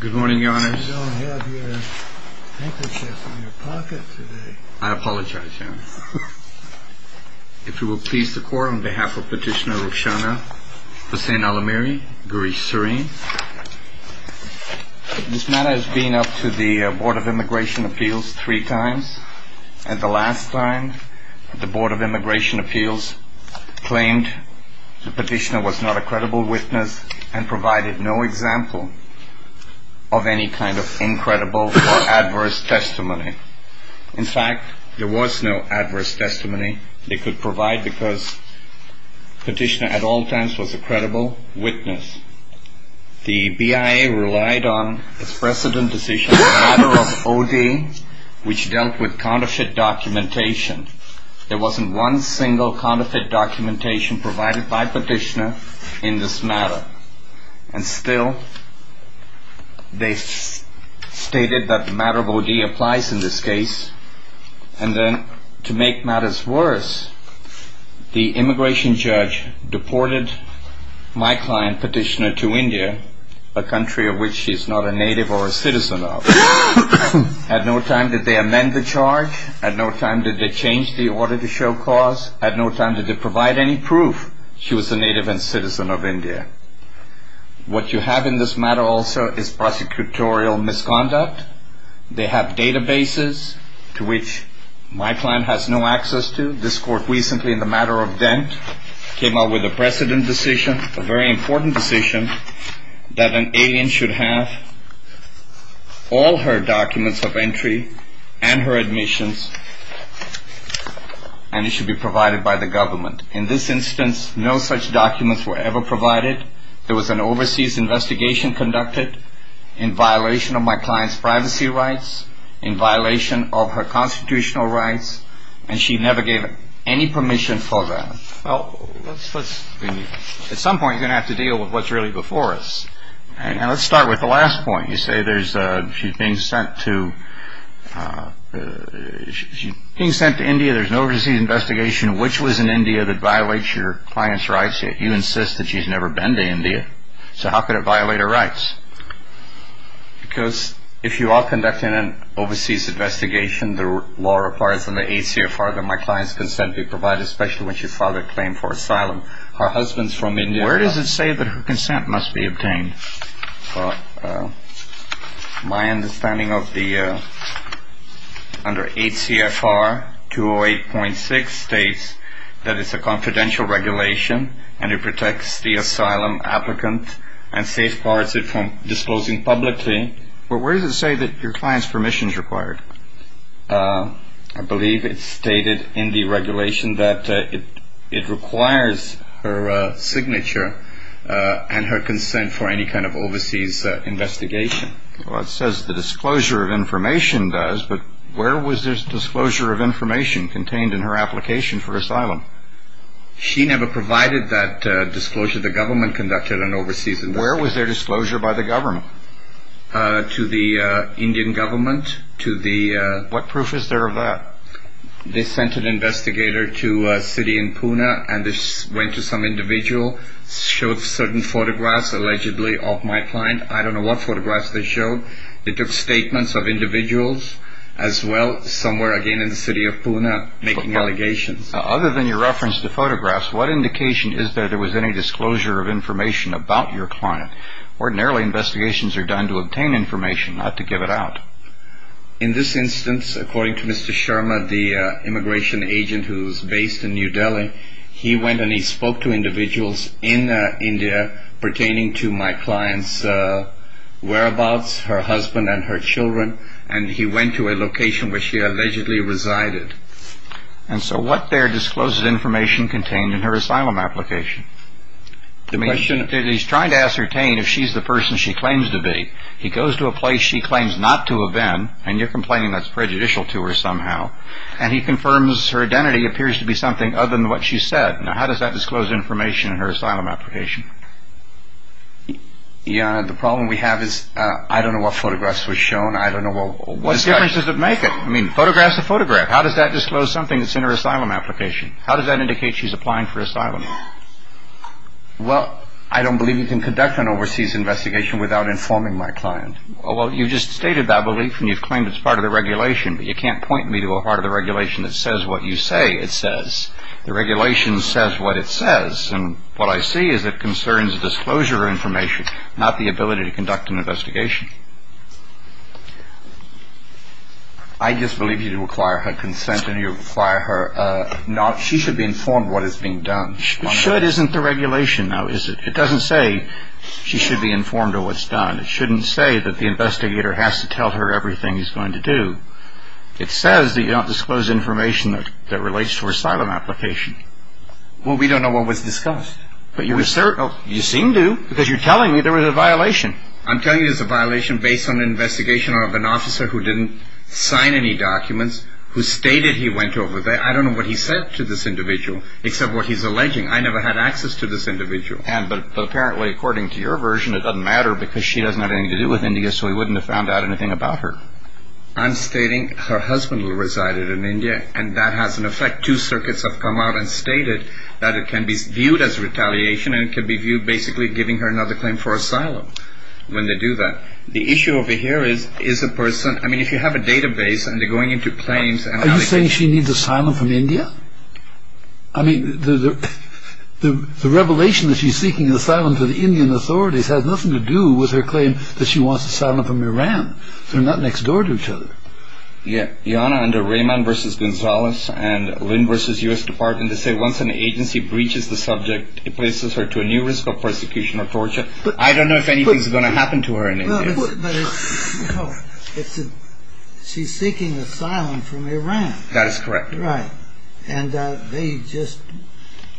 Good morning, your honors. You don't have your handkerchief in your pocket today. I apologize, your honor. If you will please the court, on behalf of Petitioner Rukhshana Hossein Al-Amiri, Garish Serein. This matter has been up to the Board of Immigration Appeals three times. And the last time, the Board of Immigration Appeals claimed the petitioner was not a credible witness and provided no example of any kind of incredible or adverse testimony. In fact, there was no adverse testimony they could provide because Petitioner at all times was a credible witness. The BIA relied on its precedent decision on the matter of OD, which dealt with counterfeit documentation. There wasn't one single counterfeit documentation provided by Petitioner in this matter. And still, they stated that the matter of OD applies in this case. And then, to make matters worse, the immigration judge deported my client, Petitioner, to India, a country of which she is not a native or a citizen of. At no time did they amend the charge. At no time did they change the order to show cause. At no time did they provide any proof she was a native and citizen of India. What you have in this matter also is prosecutorial misconduct. They have databases to which my client has no access to. This court recently, in the matter of Dent, came out with a precedent decision, a very important decision, that an alien should have all her documents of entry and her admissions, and it should be provided by the government. In this instance, no such documents were ever provided. There was an overseas investigation conducted in violation of my client's privacy rights, in violation of her constitutional rights, and she never gave any permission for that. Well, at some point, you're going to have to deal with what's really before us. And let's start with the last point. You say she's being sent to India, there's an overseas investigation. Which was in India that violates your client's rights? You insist that she's never been to India. So how could it violate her rights? Because if you are conducting an overseas investigation, the law requires from the ACFR that my client's consent be provided, especially when she filed a claim for asylum. Her husband's from India. Where does it say that her consent must be obtained? My understanding of the under ACFR 208.6 states that it's a confidential regulation, and it protects the asylum applicant and safeguards it from disclosing publicly. But where does it say that your client's permission is required? I believe it's stated in the regulation that it requires her signature and her consent for any kind of overseas investigation. Well, it says the disclosure of information does, but where was this disclosure of information contained in her application for asylum? She never provided that disclosure. The government conducted an overseas investigation. Where was their disclosure by the government? To the Indian government. What proof is there of that? They sent an investigator to a city in Pune, and they went to some individual, showed certain photographs allegedly of my client. I don't know what photographs they showed. They took statements of individuals as well, somewhere again in the city of Pune, making allegations. Other than your reference to photographs, what indication is there that there was any disclosure of information about your client? Ordinarily, investigations are done to obtain information, not to give it out. In this instance, according to Mr. Sharma, the immigration agent who is based in New Delhi, he went and he spoke to individuals in India pertaining to my client's whereabouts, her husband and her children, and he went to a location where she allegedly resided. And so what there disclosed information contained in her asylum application? I mean, he's trying to ascertain if she's the person she claims to be. He goes to a place she claims not to have been, and you're complaining that's prejudicial to her somehow, and he confirms her identity appears to be something other than what she said. Now, how does that disclose information in her asylum application? Your Honor, the problem we have is I don't know what photographs were shown. I don't know what discussions. What difference does it make? I mean, photographs are photographs. How does that disclose something that's in her asylum application? How does that indicate she's applying for asylum? Well, I don't believe you can conduct an overseas investigation without informing my client. Well, you just stated that belief, and you've claimed it's part of the regulation, but you can't point me to a part of the regulation that says what you say it says. The regulation says what it says, and what I see is it concerns disclosure of information, not the ability to conduct an investigation. I just believe you require her consent, and you require her not – she should be informed what is being done. But should isn't the regulation, though, is it? It doesn't say she should be informed of what's done. It shouldn't say that the investigator has to tell her everything he's going to do. It says that you don't disclose information that relates to her asylum application. Well, we don't know what was discussed. But you seem to, because you're telling me there was a violation. I'm telling you there's a violation based on an investigation of an officer who didn't sign any documents, who stated he went over there. I don't know what he said to this individual, except what he's alleging. I never had access to this individual. But apparently, according to your version, it doesn't matter because she doesn't have anything to do with India, so he wouldn't have found out anything about her. I'm stating her husband resided in India, and that has an effect. Two circuits have come out and stated that it can be viewed as retaliation, and it can be viewed as basically giving her another claim for asylum when they do that. The issue over here is, is the person, I mean, if you have a database and they're going into claims, Are you saying she needs asylum from India? I mean, the revelation that she's seeking asylum from the Indian authorities has nothing to do with her claim that she wants asylum from Iran. They're not next door to each other. Yeah, Yana under Raymond v. Gonzalez and Lynn v. U.S. Department, they say once an agency breaches the subject, it places her to a new risk of persecution or torture. I don't know if anything's going to happen to her in India. No, she's seeking asylum from Iran. That is correct. Right. And they just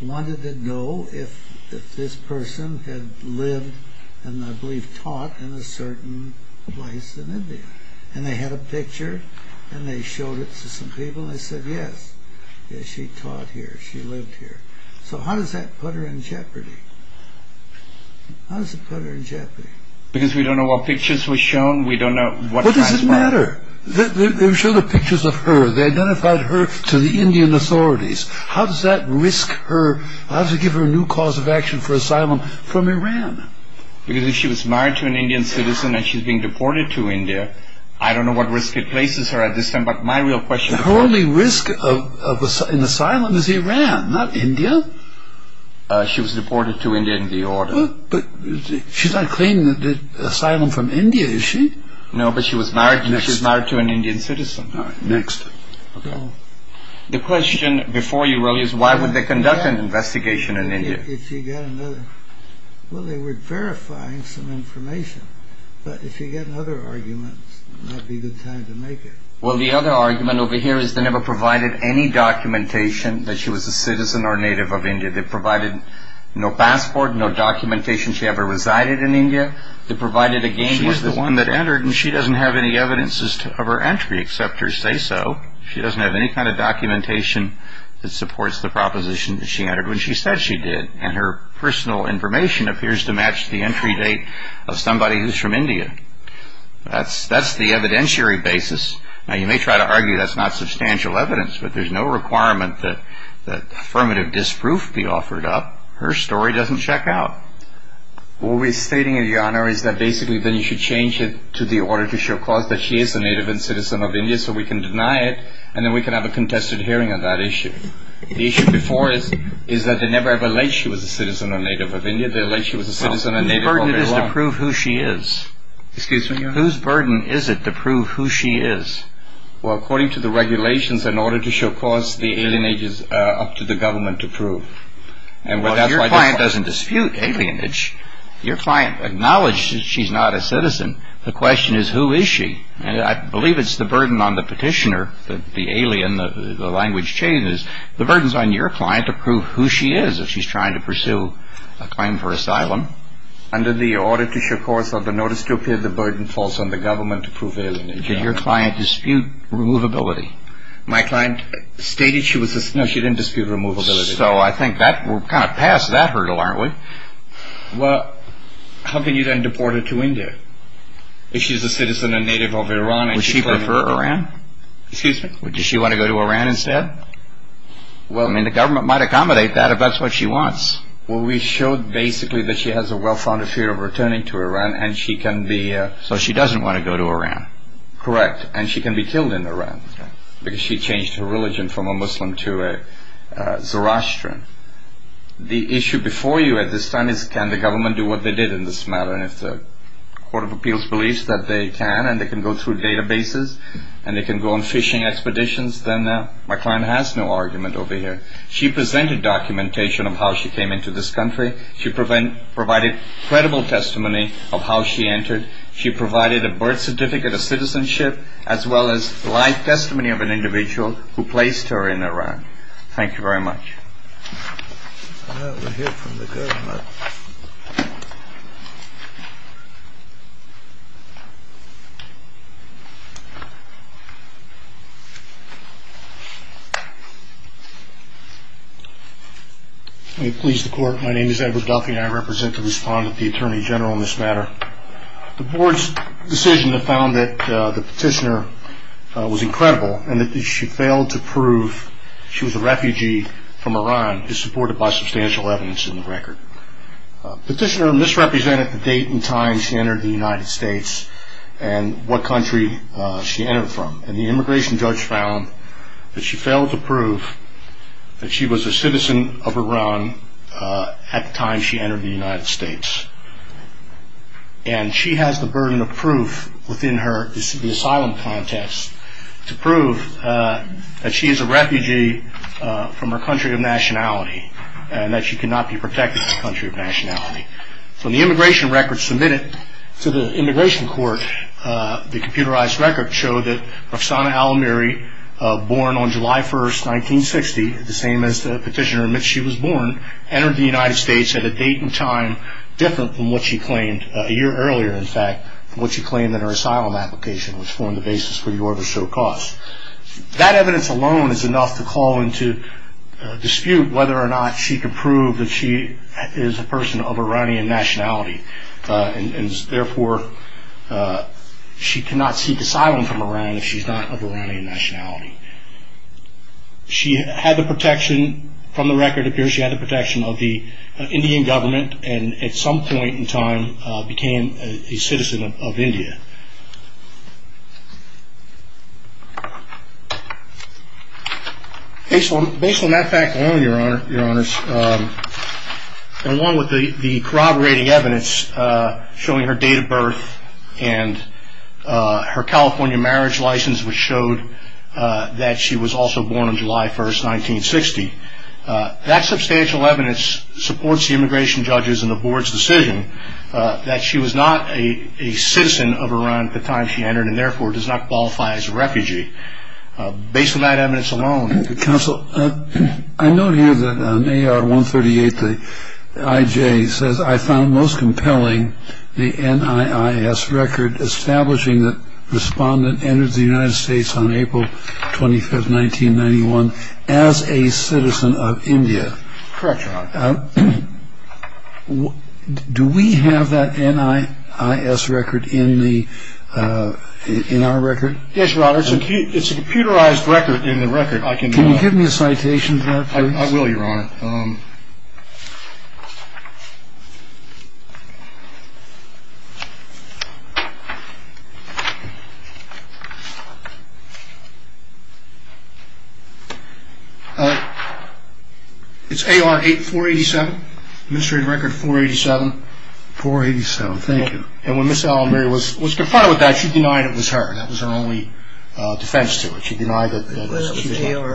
wanted to know if this person had lived and I believe taught in a certain place in India. And they had a picture, and they showed it to some people, and they said yes, she taught here, she lived here. So how does that put her in jeopardy? How does it put her in jeopardy? Because we don't know what pictures were shown, we don't know what... What does it matter? They showed the pictures of her, they identified her to the Indian authorities. How does that risk her, how does it give her a new cause of action for asylum from Iran? Because if she was married to an Indian citizen and she's being deported to India, I don't know what risk it places her at this time, but my real question... Her only risk in asylum is Iran, not India. She was deported to India in the order. But she's not claiming asylum from India, is she? No, but she was married to an Indian citizen. Next. The question before you, really, is why would they conduct an investigation in India? If you get another... Well, they were verifying some information, but if you get other arguments, that would be a good time to make it. Well, the other argument over here is they never provided any documentation that she was a citizen or native of India. They provided no passport, no documentation she ever resided in India. They provided again... She was the one that entered, and she doesn't have any evidence of her entry, except her say-so. She doesn't have any kind of documentation that supports the proposition that she entered, when she said she did. And her personal information appears to match the entry date of somebody who's from India. That's the evidentiary basis. Now, you may try to argue that's not substantial evidence, but there's no requirement that affirmative disproof be offered up. Her story doesn't check out. What we're stating, Your Honor, is that basically then you should change it to the order to show cause that she is a native and citizen of India, so we can deny it, and then we can have a contested hearing on that issue. The issue before is that they never ever alleged she was a citizen or native of India. Well, whose burden is it to prove who she is? Excuse me, Your Honor? Whose burden is it to prove who she is? Well, according to the regulations, in order to show cause, the alienage is up to the government to prove. Well, your client doesn't dispute alienage. Your client acknowledges she's not a citizen. The question is, who is she? And I believe it's the burden on the petitioner, the alien, the language changes. The burden's on your client to prove who she is if she's trying to pursue a claim for asylum. Under the order to show cause or the notice to appear, the burden falls on the government to prove alienage. Did your client dispute removability? My client stated she was a citizen. No, she didn't dispute removability. So I think we're kind of past that hurdle, aren't we? Well, how can you then deport her to India if she's a citizen and native of Iran? Would she prefer Iran? Excuse me? Does she want to go to Iran instead? Well, I mean, the government might accommodate that if that's what she wants. Well, we showed basically that she has a well-founded fear of returning to Iran and she can be... So she doesn't want to go to Iran? Correct, and she can be killed in Iran because she changed her religion from a Muslim to a Zoroastrian. The issue before you at this time is can the government do what they did in this matter? And if the Court of Appeals believes that they can and they can go through databases and they can go on fishing expeditions, then my client has no argument over here. She presented documentation of how she came into this country. She provided credible testimony of how she entered. She provided a birth certificate of citizenship as well as live testimony of an individual who placed her in Iran. Thank you very much. Well, we'll hear from the government. May it please the Court, my name is Edward Duffy and I represent the respondent, the Attorney General, in this matter. The Board's decision found that the petitioner was incredible and that she failed to prove she was a refugee from Iran is supported by substantial evidence in the record. Petitioner misrepresented the date and time she entered the United States and what country she entered from. And the immigration judge found that she failed to prove that she was a citizen of Iran at the time she entered the United States. And she has the burden of proof within her, the asylum contest, to prove that she is a refugee from her country of nationality and that she cannot be protected in her country of nationality. From the immigration record submitted to the Immigration Court, the computerized record showed that Rafsana Al Amiri, born on July 1, 1960, the same as the petitioner in which she was born, entered the United States at a date and time different from what she claimed a year earlier, in fact, from what she claimed in her asylum application, which formed the basis for the order to show cause. That evidence alone is enough to call into dispute whether or not she can prove that she is a person of Iranian nationality and therefore she cannot seek asylum from Iran if she is not of Iranian nationality. She had the protection, from the record it appears she had the protection, of the Indian government and at some point in time became a citizen of India. Based on that fact alone, Your Honor, along with the corroborating evidence showing her date of birth and her California marriage license which showed that she was also born on July 1, 1960, that substantial evidence supports the immigration judges and the board's decision that she was not a citizen of Iran at the time she entered and therefore does not qualify as a refugee. Based on that evidence alone... Counsel, I note here that in AR 138 the IJ says, I found most compelling the NIIS record establishing that the respondent entered the United States on April 25, 1991 as a citizen of India. Correct, Your Honor. Do we have that NIIS record in our record? Yes, Your Honor. It's a computerized record in the record. Can you give me a citation for that, please? I will, Your Honor. It's AR 8487, administrative record 487. 487, thank you. And when Ms. Allenberry was confronted with that, she denied it was her. That was her only defense to it. Was it AR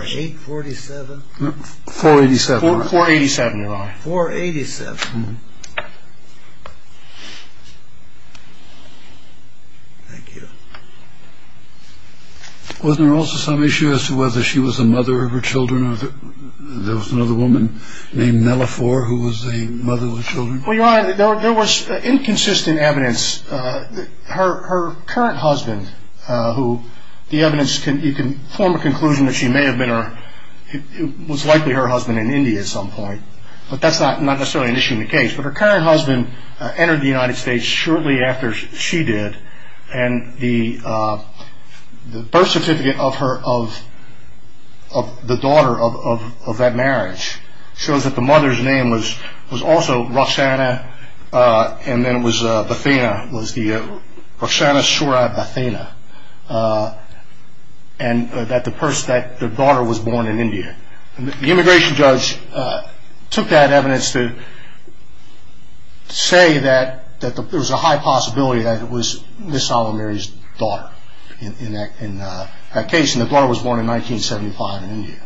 847? No, 487. 487, Your Honor. 487. Thank you. Wasn't there also some issue as to whether she was the mother of her children? There was another woman named Mellifore who was the mother of the children? Well, Your Honor, there was inconsistent evidence. Her current husband, who the evidence can form a conclusion that she may have been or was likely her husband in India at some point, but that's not necessarily an issue in the case. But her current husband entered the United States shortly after she did, and the birth certificate of the daughter of that marriage shows that the mother's name was also Roxana and then it was Bethina, was the Roxana Shura Bethina, and that the daughter was born in India. The immigration judge took that evidence to say that there was a high possibility that it was Ms. Allenberry's daughter in that case, and the daughter was born in 1975 in India.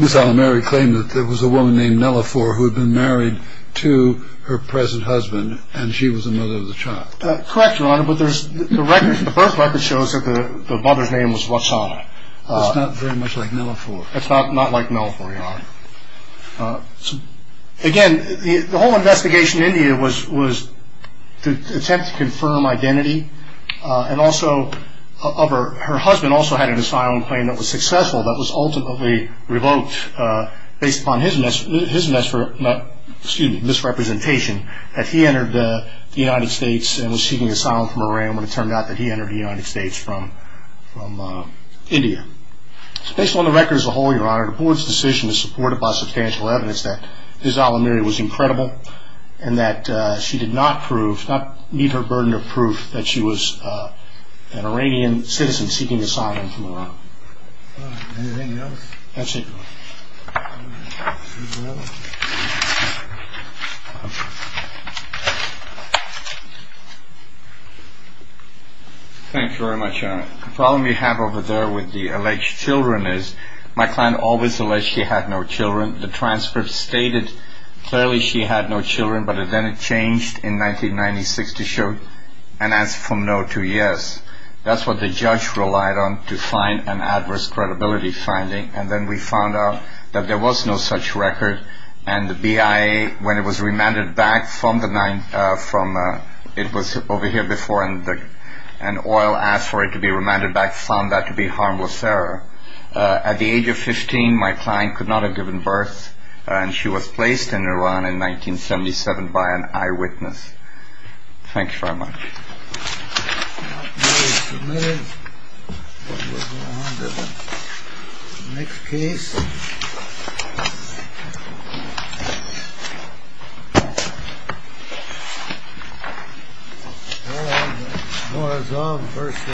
Ms. Allenberry claimed that there was a woman named Mellifore who had been married to her present husband and she was the mother of the child. Correct, Your Honor, but the birth record shows that the mother's name was Roxana. That's not very much like Mellifore. That's not like Mellifore, Your Honor. Again, the whole investigation in India was to attempt to confirm identity, and also her husband also had an asylum claim that was successful that was ultimately revoked based upon his misrepresentation that he entered the United States and was seeking asylum from Iran when it turned out that he entered the United States from India. Based on the record as a whole, Your Honor, the board's decision is supported by substantial evidence that Ms. Allenberry was incredible and that she did not need her burden of proof that she was an Iranian citizen seeking asylum from Iran. Anything else? That's it, Your Honor. Thanks very much, Your Honor. The problem you have over there with the alleged children is my client always alleged she had no children. The transcript stated clearly she had no children, but then it changed in 1996 to show an answer from no to yes. That's what the judge relied on to find an adverse credibility finding, and then we found out that there was no such record, and the BIA, when it was remanded back from the nine, from, it was over here before, and oil asked for it to be remanded back, found that to be harmless error. At the age of 15, my client could not have given birth, and she was placed in Iran in 1977 by an eyewitness. Thanks very much.